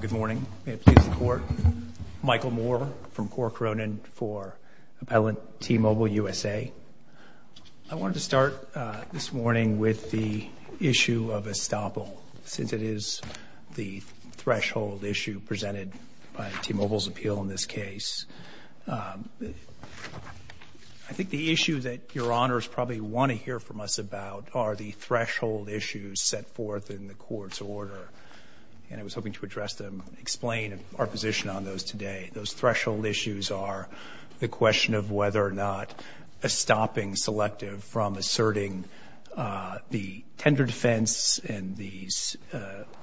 Good morning. May it please the Court. Michael Moore from Corcoronan for Appellant T-Mobile USA. I wanted to start this morning with the issue of estoppel, since it is the threshold issue presented by T-Mobile's appeal in this case. I think the issue that Your Honors probably want to hear from us about are the threshold issues set forth in the Court's order. And I was hoping to address them, explain our position on those today. Those threshold issues are the question of whether or not a stopping selective from asserting the tender defense and these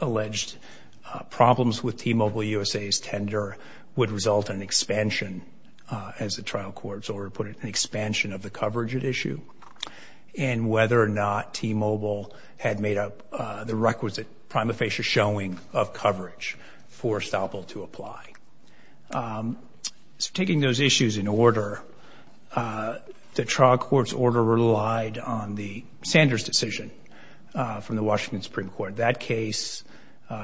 alleged problems with T-Mobile USA's tender would result in expansion, as the trial court's order put it, an expansion of the coverage at issue. And whether or not T-Mobile had made up the requisite prima facie showing of coverage for estoppel to apply. So taking those issues in order, the trial court's order relied on the Sanders decision from the Washington Supreme Court. That case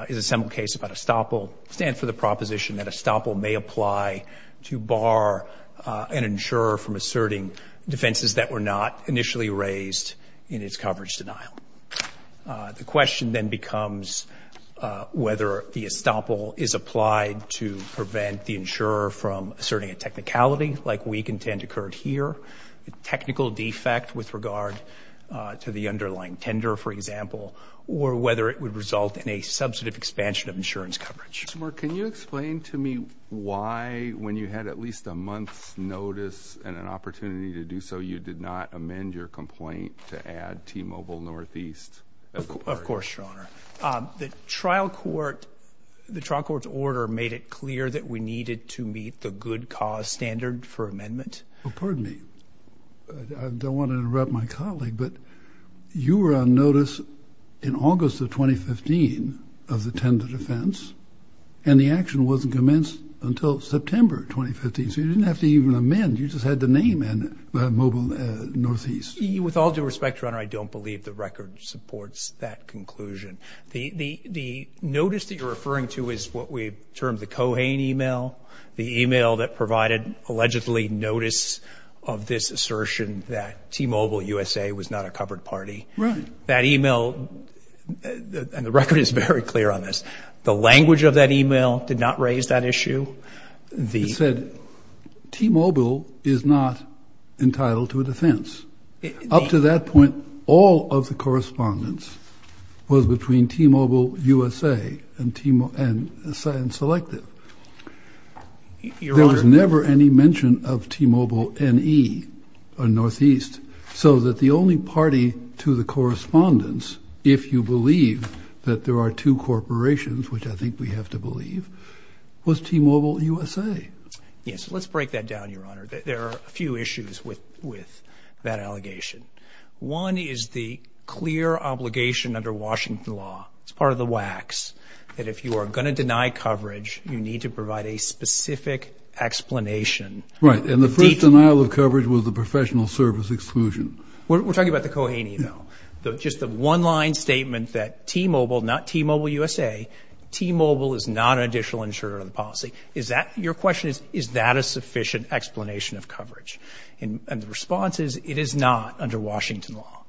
is a simple case about estoppel, stands for the proposition that estoppel may apply to bar an insurer from asserting defenses that were not initially raised in its coverage denial. The question then becomes whether the estoppel is applied to prevent the insurer from asserting a technicality like we contend occurred here, a technical defect with regard to the underlying tender, for example, or whether it would result in a substantive expansion of insurance coverage. Can you explain to me why, when you had at least a month's notice and an opportunity to do so, you did not amend your complaint to add T-Mobile Northeast? Of course, Your Honor. The trial court, the trial court's order made it clear that we needed to meet the good cause standard for amendment. Well, pardon me. I don't want to interrupt my colleague, but you were on notice in August of 2015 of the tender defense, and the action wasn't commenced until September 2015. So you didn't have to even amend. You just had the name in, Mobile Northeast. With all due respect, Your Honor, I don't believe the record supports that conclusion. The notice that you're referring to is what we termed the Cohane email, the email that provided allegedly notice of this assertion that T-Mobile USA was not a covered party. That email, and the record is very clear on this, the language of that email did not raise that issue. It said, T-Mobile is not entitled to a defense. Up to that point, all of the correspondence was between T-Mobile USA and Selective. There was never any mention of T-Mobile NE, or Northeast, so that the only party to the correspondence, if you believe that there are two corporations, which I think we have to believe, was T-Mobile USA. Yes, let's break that down, Your Honor. There are a few issues with that allegation. One is the clear obligation under Washington law, it's part of the WACs, that if you are going to deny coverage, you need to provide a specific explanation. Right, and the first denial of coverage was the professional service exclusion. We're talking about the Cohane email. Just the one-line statement that T-Mobile, not T-Mobile USA, T-Mobile is not an additional insurer of the policy. Your question is, is that a sufficient explanation of coverage? And the response is, it is not under Washington law.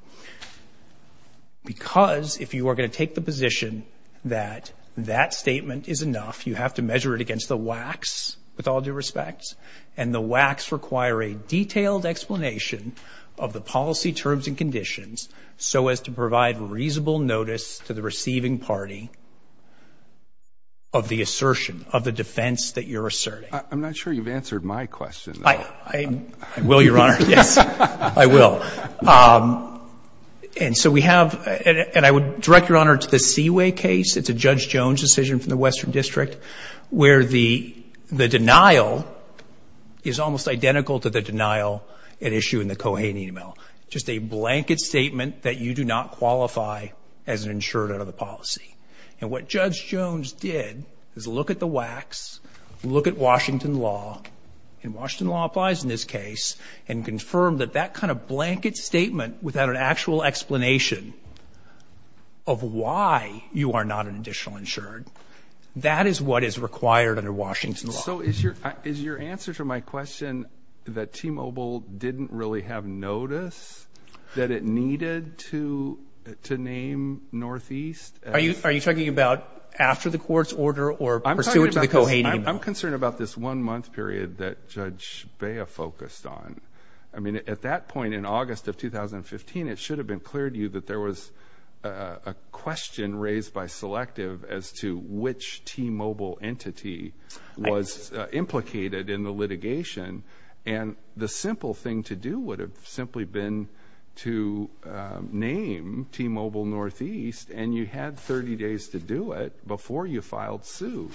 Because if you are going to take the position that that statement is enough, you have to measure it against the WACs, with all due respect, and the WACs require a detailed explanation of the policy terms and conditions so as to provide reasonable notice to the receiving party of the assertion, of the defense that you're asserting. I'm not sure you've answered my question. I will, Your Honor. Yes, I will. And so we have, and I would direct, Your Honor, to the Seaway case. It's a Judge Jones decision from the Western District where the denial is almost identical to the denial at issue in the Cohane email. Just a blanket statement that you do not qualify as an insurer of the policy. And what Judge Jones did is look at the WACs, look at Washington law, and Washington law applies in this case, and confirmed that that kind of blanket statement without an actual explanation of why you are not an additional insured, that is what is required under Washington law. So is your answer to my question that T-Mobile didn't really have notice that it needed to name Northeast? Are you talking about after the court's order or pursuant to the Cohane email? I'm concerned about this one month period that Judge Bea focused on. I mean, at that point in August of 2015, it should have been clear to you that there was a question raised by Selective as to which T-Mobile entity was implicated in the litigation. And the simple thing to do would have simply been to name T-Mobile Northeast, and you had 30 days to do it before you filed suit.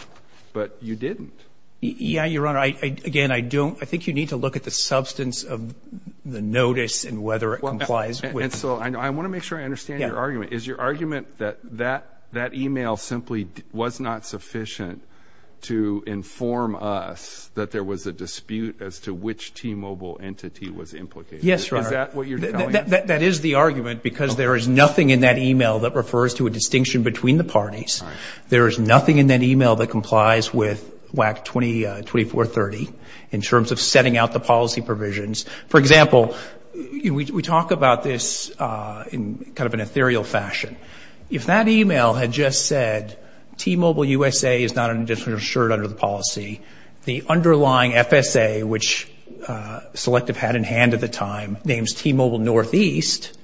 But you didn't. Yeah, Your Honor. Again, I think you need to look at the substance of the notice and whether it complies. And so I want to make sure I understand your argument. Is your argument that that email simply was not sufficient to inform us that there was a dispute as to which T-Mobile entity was implicated? Yes, Your Honor. Is that what you're telling us? That is the argument, because there is nothing in that email that refers to a distinction between the parties. There is nothing in that email that complies with WAC 2430 in terms of setting out the policy provisions. For example, we talk about this in kind of an ethereal fashion. If that email had just said, T-Mobile USA is not under the policy, the underlying FSA, which Selective had in hand at the time, names T-Mobile Northeast,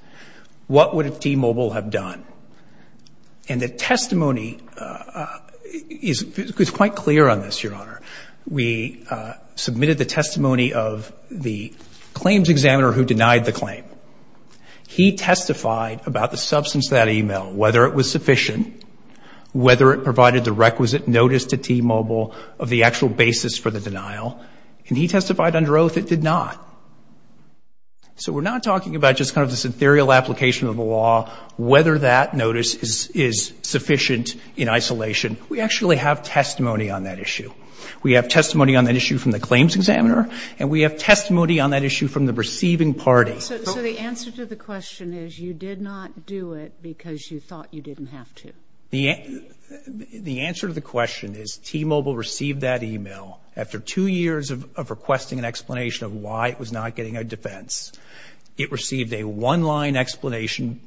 what would T-Mobile have done? And the testimony is quite clear on this, Your Honor. We submitted the testimony of the claims examiner who denied the claim. He testified about the substance of that email, whether it was sufficient, whether it provided the requisite notice to T-Mobile of the actual basis for the denial. And he testified under oath it did not. So we're not talking about just kind of this ethereal application of the law, whether that notice is sufficient in isolation. We actually have testimony on that issue. We have testimony on that issue from the claims examiner, and we have testimony on that issue from the receiving party. So the answer to the question is you did not do it because you thought you didn't have to? The answer to the question is T-Mobile received that email after two years of requesting an explanation of why it was not getting a defense. It received a one-line explanation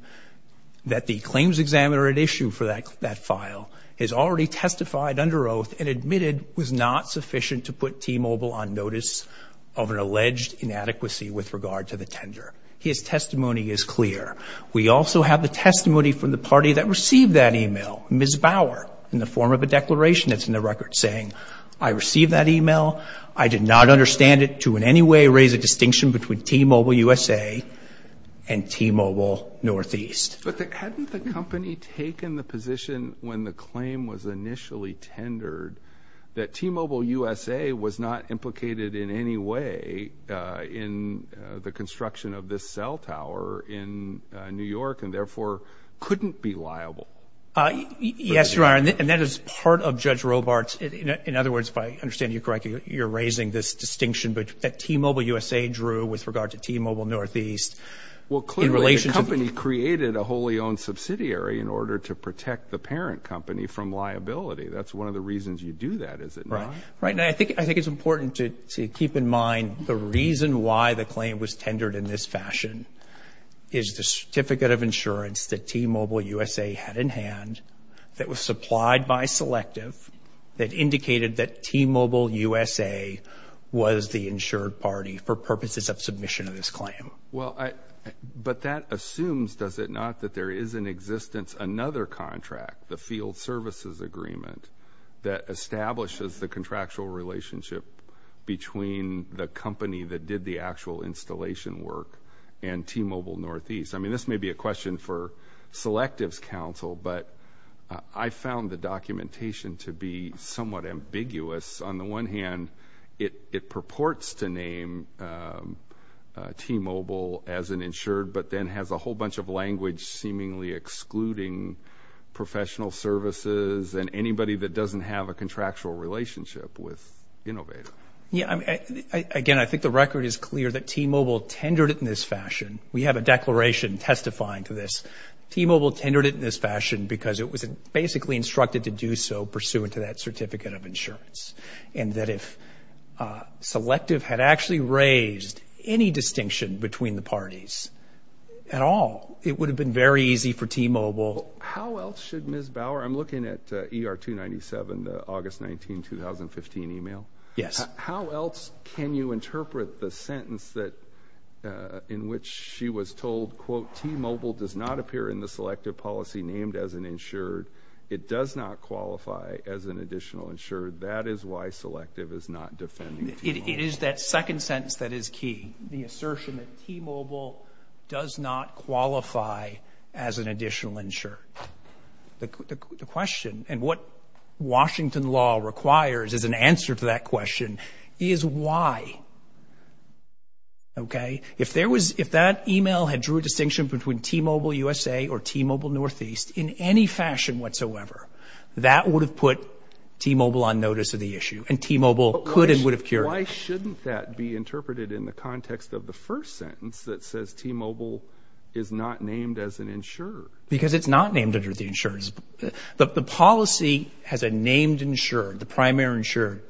that the claims examiner at issue for that file has already testified under oath and admitted was not sufficient to put T-Mobile on notice of an alleged inadequacy with regard to the tender. His testimony is clear. We also have the testimony from the party that received that email, Ms. Bauer, in the form of a declaration that's in the record saying I received that email. I did not understand it to in any way raise a distinction between T-Mobile USA and T-Mobile Northeast. But hadn't the company taken the position when the claim was initially tendered that T-Mobile USA was not implicated in any way in the construction of this cell tower in New York and therefore couldn't be liable? Yes, Your Honor, and that is part of Judge Robart's, in other words, if I understand you correctly, you're raising this distinction that T-Mobile USA drew with regard to T-Mobile Northeast in relation to the Well, clearly the company created a wholly owned subsidiary in order to protect the parent company from liability. That's one of the reasons you do that, is it not? Right. And I think it's important to keep in mind the reason why the claim was tendered in this fashion is the certificate of insurance that T-Mobile USA had in hand that was supplied by Selective that indicated that T-Mobile USA was the insured party for purposes of submission of this claim. But that assumes, does it not, that there is in existence another contract, the Field Services Agreement, that establishes the contractual relationship between the company that did the actual installation work and T-Mobile Northeast? I mean, this may be a question for Selective's counsel, but I found the documentation to be somewhat ambiguous. On the one hand, it purports to name T-Mobile as an insured, but then has a whole bunch of language seemingly excluding professional services and anybody that doesn't have a contractual relationship with Innovator. Yeah. Again, I think the record is clear that T-Mobile tendered it in this fashion. We have a declaration testifying to this. T-Mobile tendered it in this fashion because it was basically instructed to do so pursuant to that certificate of insurance. And that if Selective had actually raised any distinction between the parties at all, it would have been very easy for T-Mobile. How else should Ms. Bauer, I'm looking at ER-297, the August 19, 2015 email, how else can you interpret the sentence in which she was told, quote, T-Mobile does not appear in the Selective policy named as an insured. It does not qualify as an additional insured. That is why Selective is not defending T-Mobile. It is that second sentence that is key. The assertion that T-Mobile does not qualify as an additional insured. The question and what Washington law requires as an answer to that question is why. Okay? If that email had drew a distinction between T-Mobile USA or T-Mobile Northeast in any fashion whatsoever, that would have put T-Mobile on notice of the issue and T-Mobile could and would have cured it. Why shouldn't that be interpreted in the context of the first sentence that says T-Mobile is not named as an insured? Because it's not named under the insurance. The policy has a named insured, the primary insured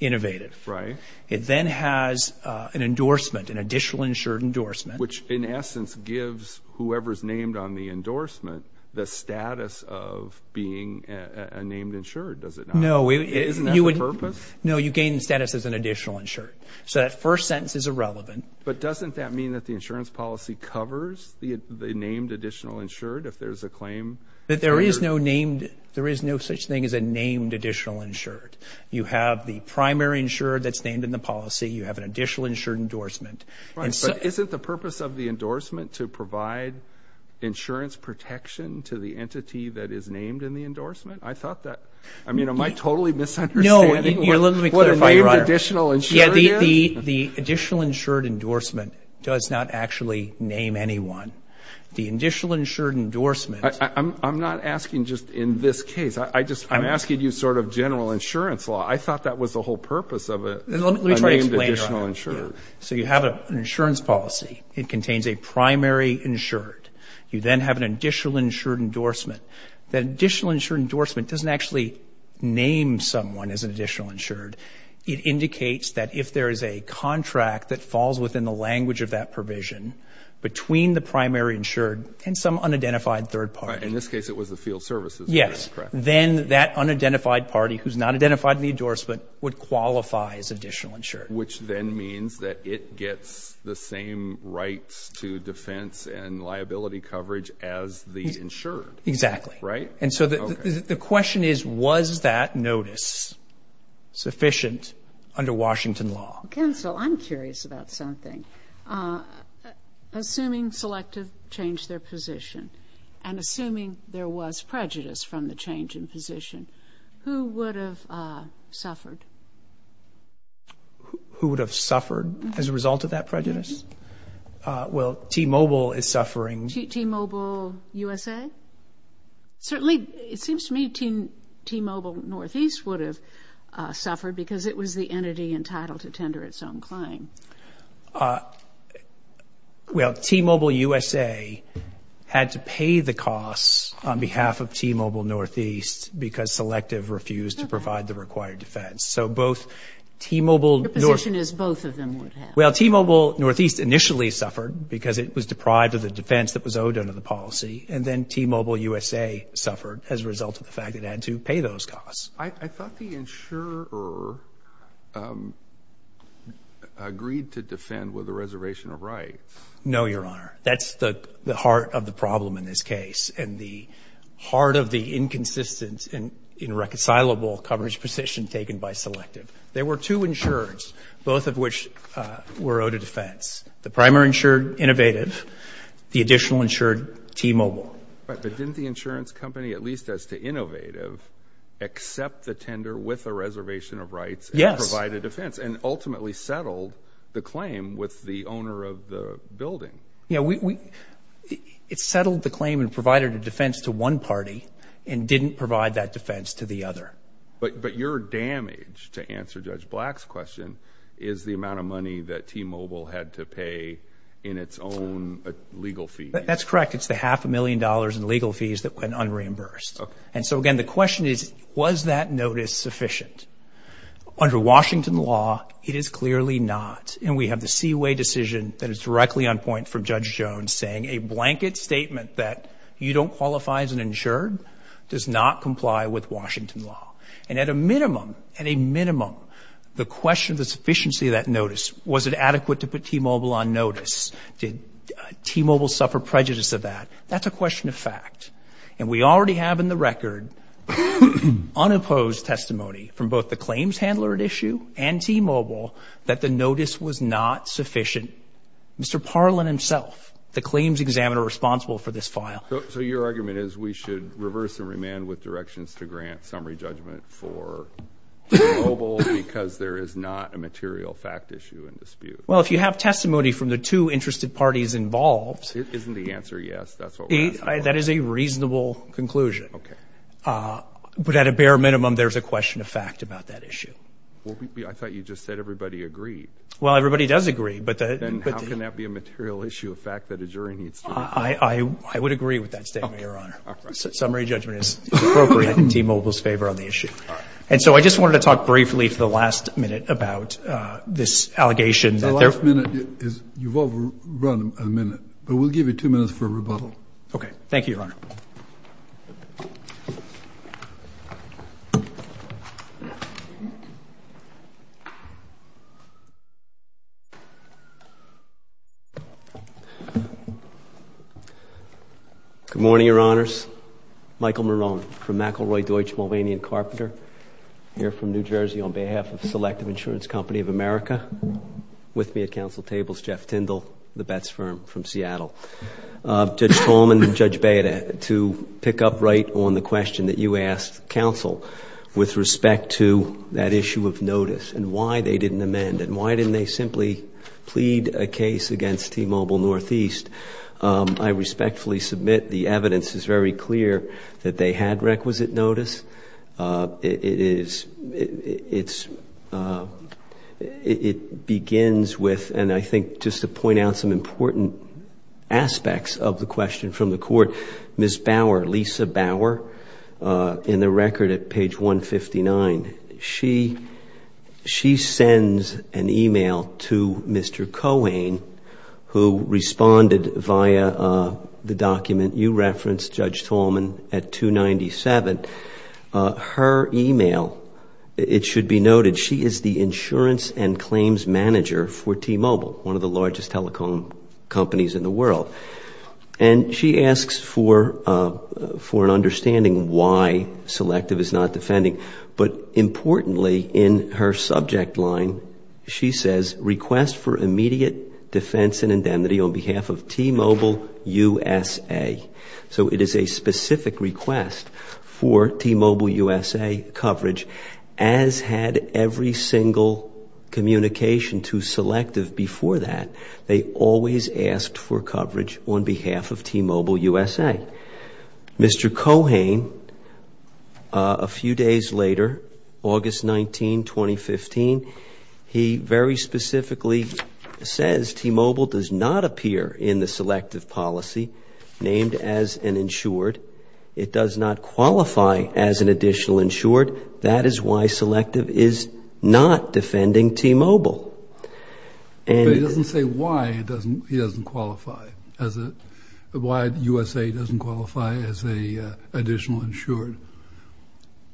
innovated. Right. It then has an endorsement, an additional insured endorsement. Which in essence gives whoever is named on the endorsement the status of being a named insured, does it not? No. Isn't that the purpose? No, you gain status as an additional insured. So that first sentence is irrelevant. But doesn't that mean that the insurance policy covers the named additional insured if there's a claim? That there is no named, there is no such thing as a named additional insured. You have the primary insured that's named in the policy, you have an additional insured endorsement. Right, but isn't the purpose of the endorsement to provide insurance protection to the entity that is named in the endorsement? I thought that, I mean, am I totally misunderstanding what a named additional insured is? The additional insured endorsement does not actually name anyone. The additional insured endorsement I'm not asking just in this case. I'm asking you sort of general insurance law. I thought that was the whole purpose of a named additional insured. So you have an insurance policy. It contains a primary insured. You then have an additional insured endorsement. That additional insured endorsement doesn't actually name someone as an additional insured. It indicates that if there is a contract that falls within the language of that provision between the primary insured and some unidentified third party. In this case, it was the field services. Yes. Then that unidentified party, who's not identified in the endorsement, would qualify as additional insured. Which then means that it gets the same rights to defense and liability coverage as the insured. Exactly. Right? And so the question is, was that notice sufficient under Washington law? Counsel, I'm curious about something. Assuming Selective changed their position and assuming there was prejudice from the change in position, who would have suffered? Who would have suffered as a result of that prejudice? Well, T-Mobile is suffering. T-Mobile USA? Certainly, it seems to me T-Mobile Northeast would have suffered because it was the entity entitled to tender its own claim. Well, T-Mobile USA had to pay the costs on behalf of T-Mobile Northeast because Selective refused to provide the required defense. So both T-Mobile Northeast Your position is both of them would have. Well, T-Mobile Northeast initially suffered because it was deprived of the defense that was owed under the policy. And then T-Mobile USA suffered as a result of the fact it had to pay those costs. I thought the insurer agreed to defend with a reservation of rights. No, Your Honor. That's the heart of the problem in this case and the heart of the inconsistent and irreconcilable coverage position taken by Selective. There were two insurers, both of which were owed a defense, the primary insured Innovative, the additional insured T-Mobile. But didn't the insurance company, at least as to Innovative, accept the tender with a reservation of rights and provide a defense and ultimately settled the claim with the owner of the building? It settled the claim and provided a defense to one party and didn't provide that defense to the other. But your damage, to answer Judge Black's question, is the amount of money that T-Mobile had to pay in its own legal fees. That's correct. It's the half a million dollars in legal fees that went unreimbursed. And so again, the question is, was that notice sufficient? Under Washington law, it is clearly not. And we have the Seaway decision that is directly on point from Judge Jones saying a blanket statement that you don't qualify as an insured does not comply with Washington law. And at a minimum, at a minimum, the question of the sufficiency of that notice, was it adequate to put T-Mobile on notice? Did T-Mobile suffer prejudice of that? That's a question of fact. And we already have in the record unopposed testimony from both the claims handler at issue and T-Mobile that the notice was not sufficient. Mr. Parlin himself, the claims examiner responsible for this file. So your argument is we should reverse and remand with directions to grant summary judgment for T-Mobile because there is not a material fact issue in dispute? Well, if you have testimony from the two interested parties involved. Isn't the answer yes? That's what we're asking for. That is a reasonable conclusion. OK. But at a bare minimum, there's a question of fact about that issue. Well, I thought you just said everybody agreed. Well, everybody does agree. But then how can that be a material issue of fact that a jury needs to agree? I would agree with that statement, Your Honor. Summary judgment is appropriate in T-Mobile's favor on the issue. And so I just wanted to talk briefly for the last minute about this allegation. The last minute is, you've overrun a minute, but we'll give you two minutes for a rebuttal. OK. Thank you, Your Honor. Good morning, Your Honors. Michael Marone from McElroy-Deutsch Mulvaney & Carpenter here from New Jersey on behalf of Selective Insurance Company of America. With me at council tables, Jeff Tindall, the Betz firm from Seattle. Judge Trollman and Judge Beda, to pick up right on the question that you asked counsel with respect to that issue of notice and why they didn't amend and why didn't they simply plead a case against T-Mobile Northeast, I respectfully submit the evidence is very clear that they had requisite notice. It is, it's, it begins with, and I think just to point out some important aspects of the question from the court, Ms. Bauer, Lisa Bauer, in the record at page 159, she sends an email to Mr. Cohen who responded via the document you referenced, Judge Trollman, at 297. Her email, it should be noted, she is the insurance and claims manager for T-Mobile, one of the largest telecom companies in the world. And she asks for an understanding why Selective is not defending, but importantly in her subject line, she says, request for immediate defense and indemnity on behalf of T-Mobile USA. So it is a specific request for T-Mobile USA coverage, as had every single communication to Selective before that. They always asked for coverage on behalf of T-Mobile USA. Mr. Cohen, a few days later, August 19, 2015, he very specifically says T-Mobile does not appear in the Selective policy named as an insured. It does not qualify as an additional insured. That is why Selective is not defending T-Mobile. But he doesn't say why he doesn't qualify, why USA doesn't qualify as an additional insured.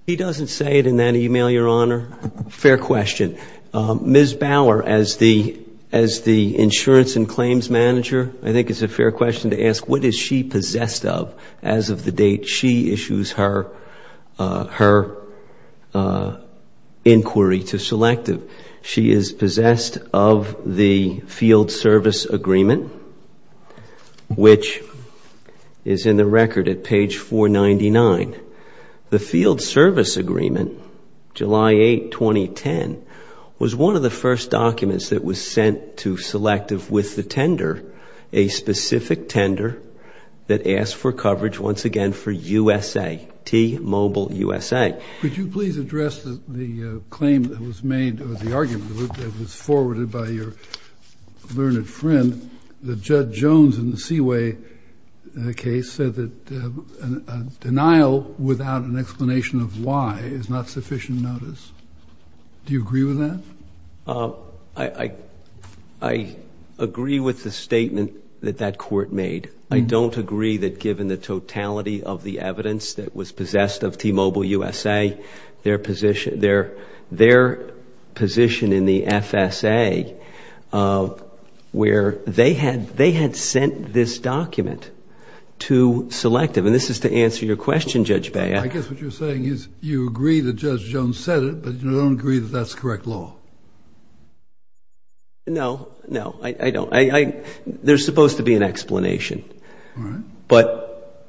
He doesn't say it in that email, Your Honor. Fair question. Ms. Bauer, as the insurance and claims manager, I think it's a fair question to ask, what is she possessed of as of the date she issues her inquiry to Selective? She is possessed of the field service agreement, which is in the record at page 499. The field service agreement, July 8, 2010, was one of the first documents that was sent to Selective with the tender, a specific tender that asked for coverage, once again, for USA, T-Mobile USA. Could you please address the claim that was made, or the argument that was forwarded by your learned friend, that Judge Jones in the Seaway case said that a denial without an explanation of why is not sufficient notice, do you agree with that? I agree with the statement that that court made. I don't agree that given the totality of the evidence that was possessed of T-Mobile USA, their position in the FSA, where they had sent this document to Selective, and this is to answer your question, Judge Bauer. I guess what you're saying is you agree that Judge Jones said it, but you don't agree that that's correct law. No, no, I don't. There's supposed to be an explanation, but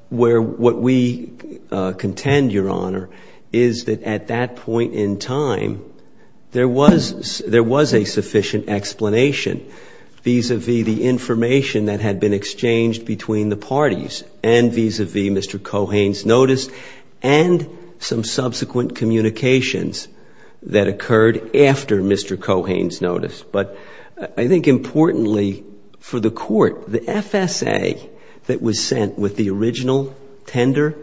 what we contend, Your Honor, is that at that point in time, there was a sufficient explanation vis-a-vis the information that had been exchanged between the parties, and vis-a-vis Mr. Cohane's notice, and some subsequent communications that occurred after Mr. Cohane's notice. But I think importantly for the court, the FSA that was sent with the original tender,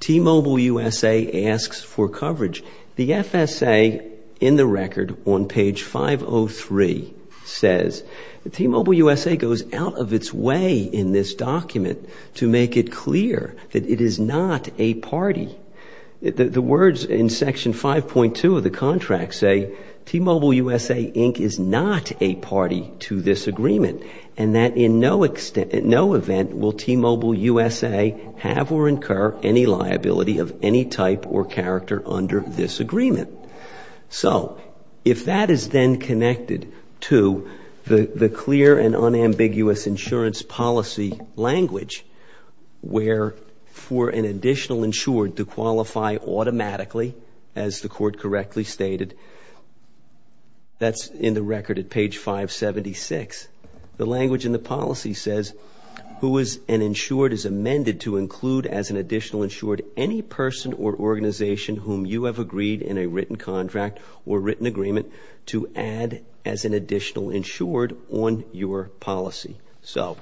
T-Mobile USA asks for coverage. The FSA in the record on page 503 says, T-Mobile USA goes out of its way in this document to make it clear that it is not a party. The words in section 5.2 of the contract say, T-Mobile USA, Inc. is not a party to this agreement, and that in no event will T-Mobile USA have or incur any liability of any type or character under this agreement. So, if that is then connected to the clear and unambiguous insurance policy language, where for an additional insured to qualify automatically, as the court correctly stated, that's in the record at page 576. The language in the policy says, who is an insured is amended to include as an additional insured any person or organization whom you have agreed in a written contract or written agreement to add as an additional insured on your policy. So,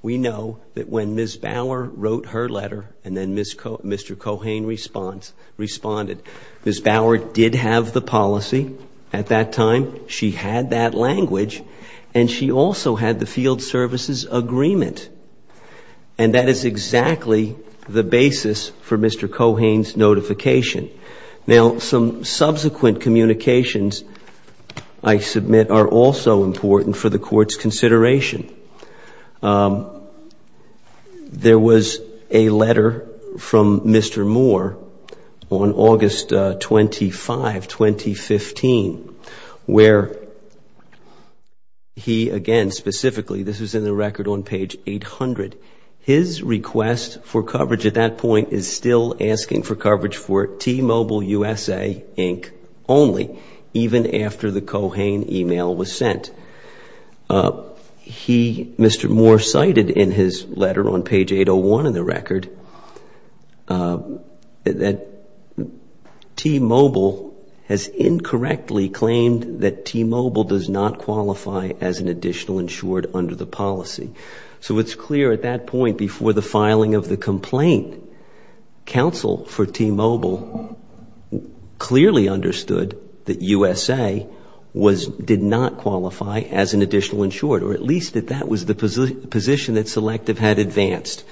we know that when Ms. Bower wrote her letter and then Mr. Cohane responded, Ms. Bower did have the policy at that time. She had that language and she also had the field services agreement. And that is exactly the basis for Mr. Cohane's notification. Now, some subsequent communications, I submit, are also important for the court's consideration. There was a letter from Mr. Moore on August 25, 2015, where he, again, specifically, this is in the record on page 800. His request for coverage at that point is still asking for coverage for T-Mobile USA Inc. only, even after the Cohane email was sent. He, Mr. Moore, cited in his letter on page 801 in the record that T-Mobile has incorrectly claimed that T-Mobile does not qualify as an additional insured under the policy. So, it's clear at that point before the filing of the complaint, counsel for T-Mobile clearly understood that USA did not qualify as an additional insured, or at least that that was the position that Selective had advanced.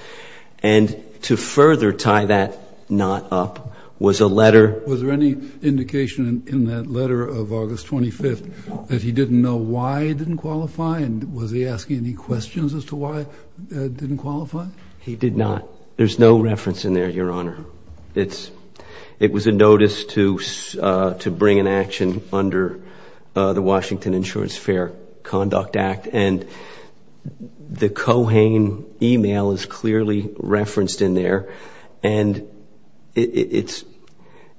And to further tie that knot up was a letter... Was there any indication in that letter of August 25 that he didn't know why he didn't qualify? And was he asking any questions as to why he didn't qualify? He did not. There's no reference in there, Your Honor. It was a notice to bring an action under the Washington Insurance Fair Conduct Act. And the Cohane email is clearly referenced in there. And it's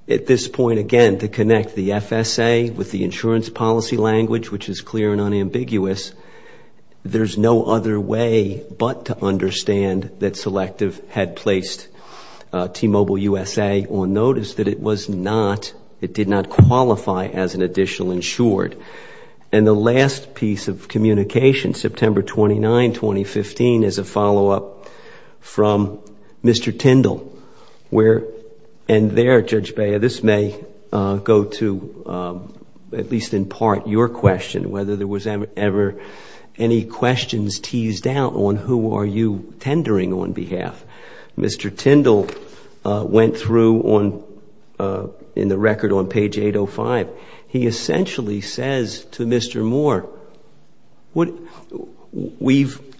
at this point, again, to connect the FSA with the insurance policy language, which is clear and unambiguous. There's no other way but to understand that Selective had placed T-Mobile USA on notice that it did not qualify as an additional insured. And the last piece of communication, September 29, 2015, is a follow-up from Mr. Tindall. And there, Judge Bea, this may go to at least in part your question, whether there was ever any questions teased out on who are you tendering on behalf. Mr. Tindall went through in the record on page 805. He essentially says to Mr. Moore,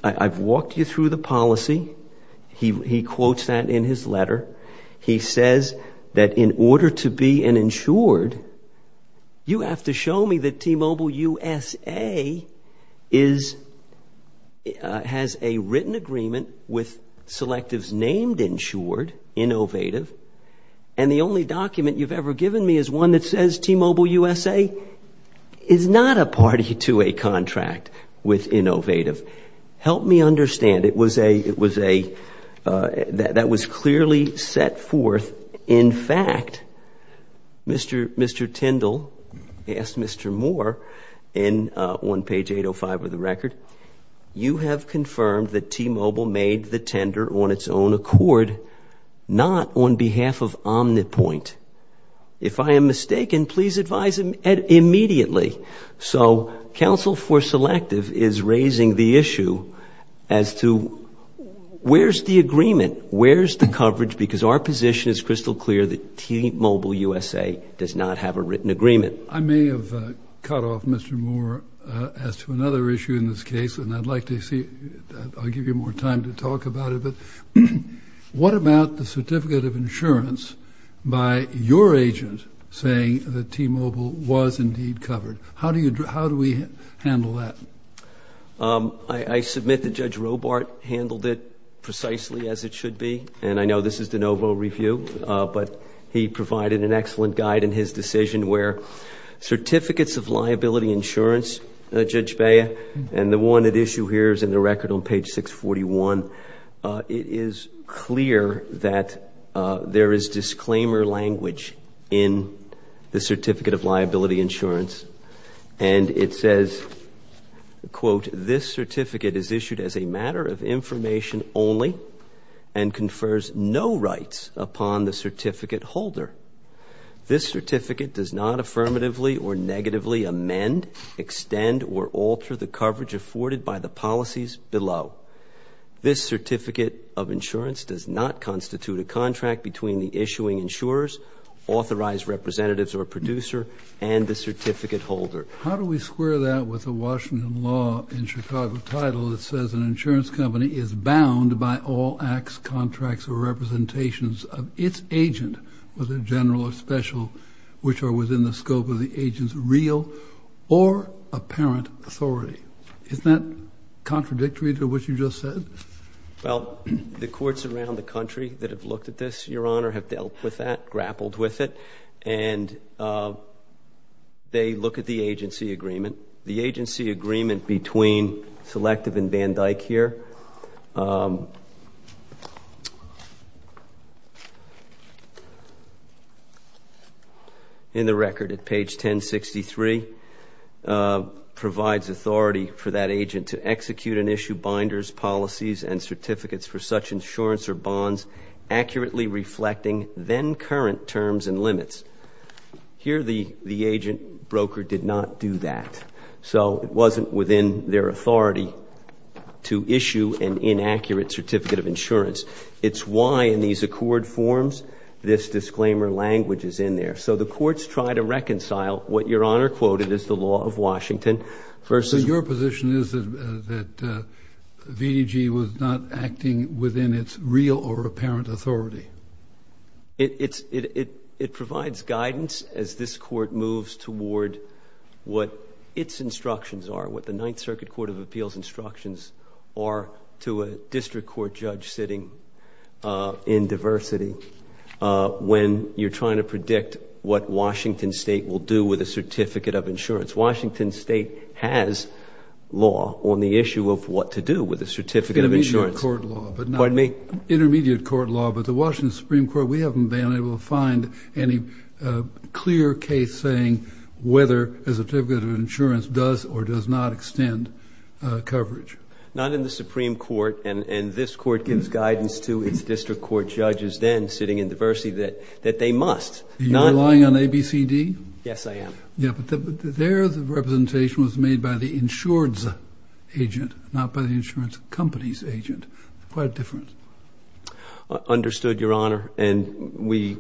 I've walked you through the policy. He quotes that in his letter. He says that in order to be an insured, you have to show me that T-Mobile USA has a written agreement with Selective's named insured, Innovative, and the only document you've ever given me is one that says T-Mobile USA is not a party to a contract with Innovative. Help me understand. That was clearly set forth. In fact, Mr. Tindall asked Mr. Moore on page 805 of the record, you have confirmed that T-Mobile made the tender on its own accord, not on behalf of Omnipoint. If I am mistaken, please advise immediately. So counsel for Selective is raising the issue as to where's the agreement? Where's the coverage? Because our position is crystal clear that T-Mobile USA does not have a written agreement. I may have cut off Mr. Moore as to another issue in this case, and I'd like to see, I'll give you more time to talk about it, but what about the certificate of insurance by your agent saying that T-Mobile was indeed covered? How do we handle that? I submit that Judge Robart handled it precisely as it should be, and I know this is de novo review, but he provided an excellent guide in his decision where certificates of liability insurance, Judge Bea, and the one at issue here is in the record on page 641. It is clear that there is disclaimer language in the certificate of liability insurance. And it says, quote, this certificate is issued as a matter of information only and confers no rights upon the certificate holder. This certificate does not affirmatively or negatively amend, extend, or alter the coverage afforded by the policies below. This certificate of insurance does not constitute a contract between the issuing insurers, authorized representatives or producer, and the certificate holder. How do we square that with the Washington law in Chicago title that says an insurance company is bound by all acts, contracts, or representations of its agent, whether general or special, which are within the scope of the agent's real or apparent authority? Isn't that contradictory to what you just said? Well, the courts around the country that have looked at this, Your Honor, have dealt with that, grappled with it, and they look at the agency agreement. The agency agreement between Selective and Van Dyck here in the record at page 1063 provides authority for that agent to execute and issue binders, policies, and certificates for such insurance or bonds accurately reflecting then current terms and limits. Here the agent broker did not do that. So it wasn't within their authority to issue an inaccurate certificate of insurance. It's why in these accord forms this disclaimer language is in there. So the courts try to reconcile what Your Honor quoted as the law of Washington versus Your position is that VDG was not acting within its real or apparent authority? It provides guidance as this Court moves toward what its instructions are, what the Ninth Circuit Court of Appeals instructions are to a district court judge sitting in diversity when you're trying to predict what Washington State will do with a certificate of insurance. Washington State has law on the issue of what to do with a certificate of insurance. Intermediate court law. Pardon me? Intermediate court law, but the Washington Supreme Court, we haven't been able to find any clear case saying whether a certificate of insurance does or does not extend coverage. Not in the Supreme Court, and this Court gives guidance to its district court judges then sitting in diversity that they must. You're relying on ABCD? Yes, I am. Yeah, but their representation was made by the insurance agent, not by the insurance company's agent. Quite different. Understood, Your Honor. And we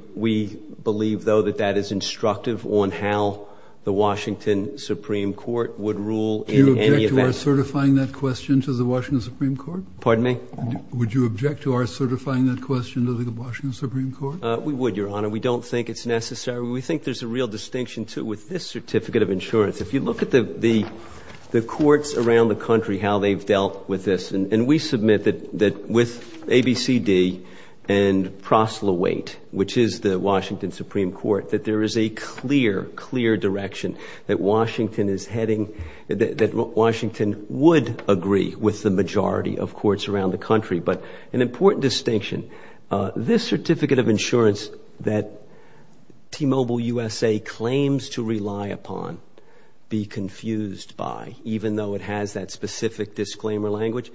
believe, though, that that is instructive on how the Washington Supreme Court would rule in any event. Do you object to our certifying that question to the Washington Supreme Court? Pardon me? Would you object to our certifying that question to the Washington Supreme Court? We would, Your Honor. We don't think it's necessary. We think there's a real distinction, too, with this certificate of insurance. If you look at the courts around the country, how they've dealt with this, and we submit that with ABCD and Prosely Wait, which is the Washington Supreme Court, that there is a clear, clear direction that Washington is heading, that Washington would agree with the majority of courts around the country. But an important distinction, this certificate of insurance that T-Mobile USA claims to rely upon be confused by, even though it has that specific disclaimer language.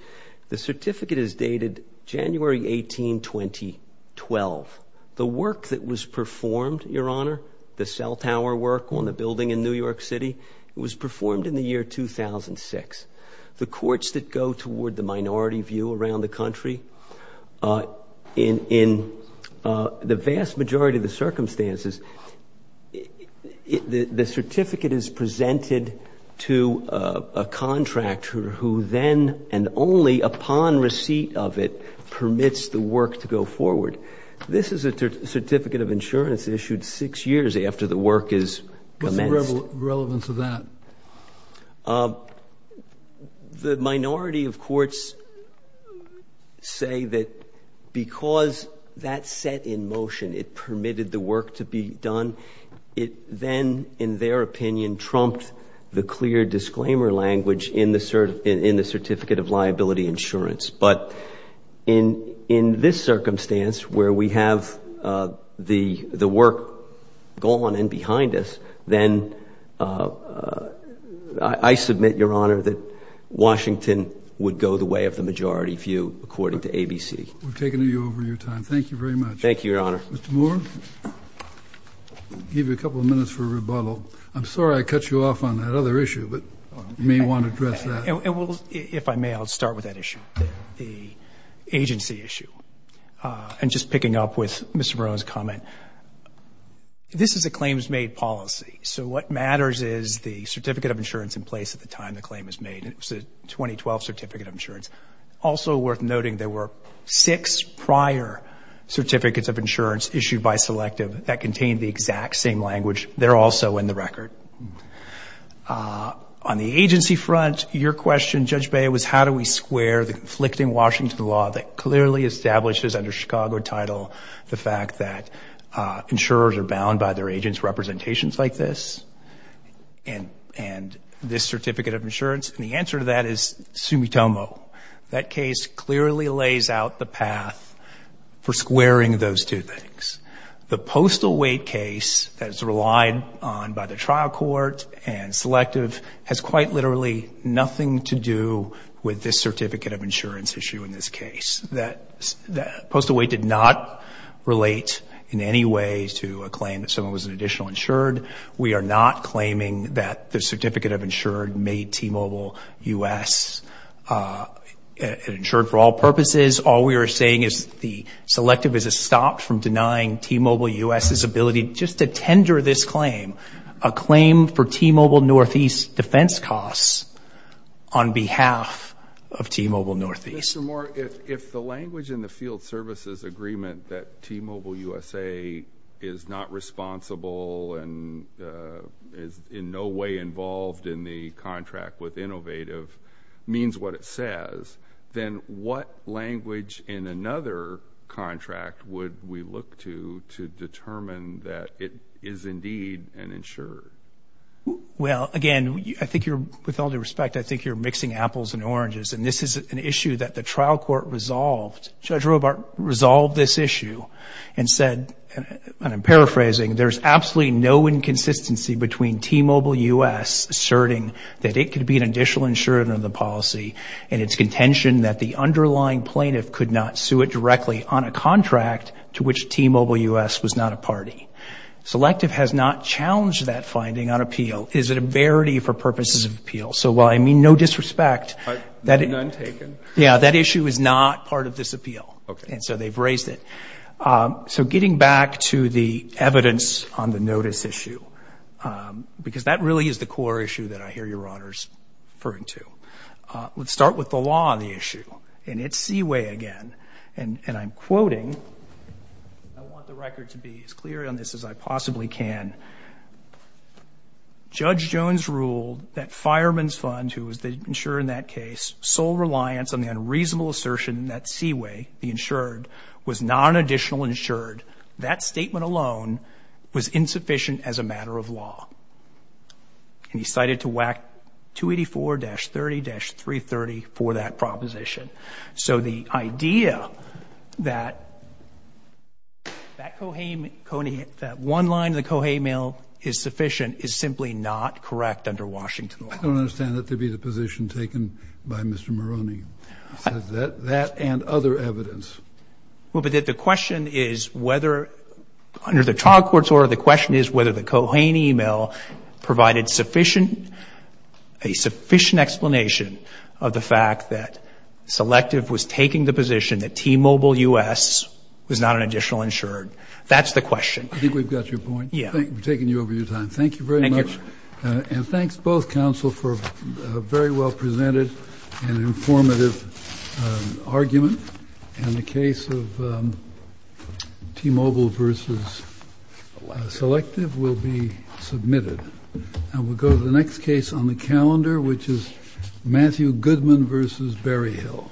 The certificate is dated January 18, 2012. The work that was performed, Your Honor, the cell tower work on the building in New York City, it was performed in the year 2006. The courts that go toward the minority view around the country, in the vast majority of the circumstances, the certificate is presented to a contractor who then, and only upon receipt of it, permits the work to go forward. This is a certificate of insurance issued six years after the work is commenced. What's the relevance of that? The minority of courts say that because that set in motion, it permitted the work to be done, it then, in their opinion, trumped the clear disclaimer language in the certificate of liability insurance. But in this circumstance, where we have the work gone and behind us, then I submit, Your Honor, Washington would go the way of the majority view, according to ABC. We've taken you over your time. Thank you very much. Thank you, Your Honor. Mr. Moore, I'll give you a couple of minutes for a rebuttal. I'm sorry I cut you off on that other issue, but you may want to address that. If I may, I'll start with that issue, the agency issue. And just picking up with Mr. Marone's comment, this is a claims-made policy. So what matters is the certificate of insurance in place at the time the claim is made. 2012 Certificate of Insurance. Also worth noting, there were six prior Certificates of Insurance issued by Selective that contained the exact same language. They're also in the record. On the agency front, your question, Judge Beyer, was how do we square the conflicting Washington law that clearly establishes under Chicago title the fact that insurers are bound by their agents' representations like this? And this Certificate of Insurance? And the answer to that is sumitomo. That case clearly lays out the path for squaring those two things. The postal weight case that is relied on by the trial court and Selective has quite literally nothing to do with this Certificate of Insurance issue in this case. Postal weight did not relate in any way to a claim that someone was an additional insured. We are not claiming that the Certificate of Insured made T-Mobile U.S. insured for all purposes. All we are saying is the Selective is a stop from denying T-Mobile U.S.'s ability just to tender this claim, a claim for T-Mobile Northeast defense costs on behalf of T-Mobile Northeast. Mr. Moore, if the language in the field services agreement that T-Mobile USA is not responsible and is in no way involved in the contract with Innovative means what it says, then what language in another contract would we look to to determine that it is indeed an insured? Well, again, I think you're, with all due respect, I think you're mixing apples and oranges. And this is an issue that the trial court resolved. Judge Robart resolved this issue and said, and I'm paraphrasing, there's absolutely no inconsistency between T-Mobile U.S. asserting that it could be an additional insured under the policy and its contention that the underlying plaintiff could not sue it directly on a contract to which T-Mobile U.S. was not a party. Selective has not challenged that finding on appeal. It is a verity for purposes of appeal. So while I mean no disrespect, that issue is not part of this and so they've raised it. So getting back to the evidence on the notice issue, because that really is the core issue that I hear your honors referring to. Let's start with the law on the issue. And it's Seaway again. And I'm quoting, I want the record to be as clear on this as I possibly can. Judge Jones ruled that Fireman's Fund, who was the insurer in that case, sole reliance on the unreasonable assertion that Seaway, the insured, was not an additional insured. That statement alone was insufficient as a matter of law. And he cited to WAC 284-30-330 for that proposition. So the idea that one line of the Cohey mail is sufficient is simply not correct under Washington law. I don't understand that to be the position taken by Mr. Maroney, that and other evidence. Well, but the question is whether, under the trial court's order, the question is whether the Cohey mail provided sufficient, a sufficient explanation of the fact that Selective was taking the position that T-Mobile U.S. was not an additional insured. That's the question. I think we've got your point. Yeah. Thank you for taking over your time. Thank you very much. And thanks, both counsel, for a very well presented and informative argument. And the case of T-Mobile versus Selective will be submitted. And we'll go to the next case on the calendar, which is Matthew Goodman versus Berryhill.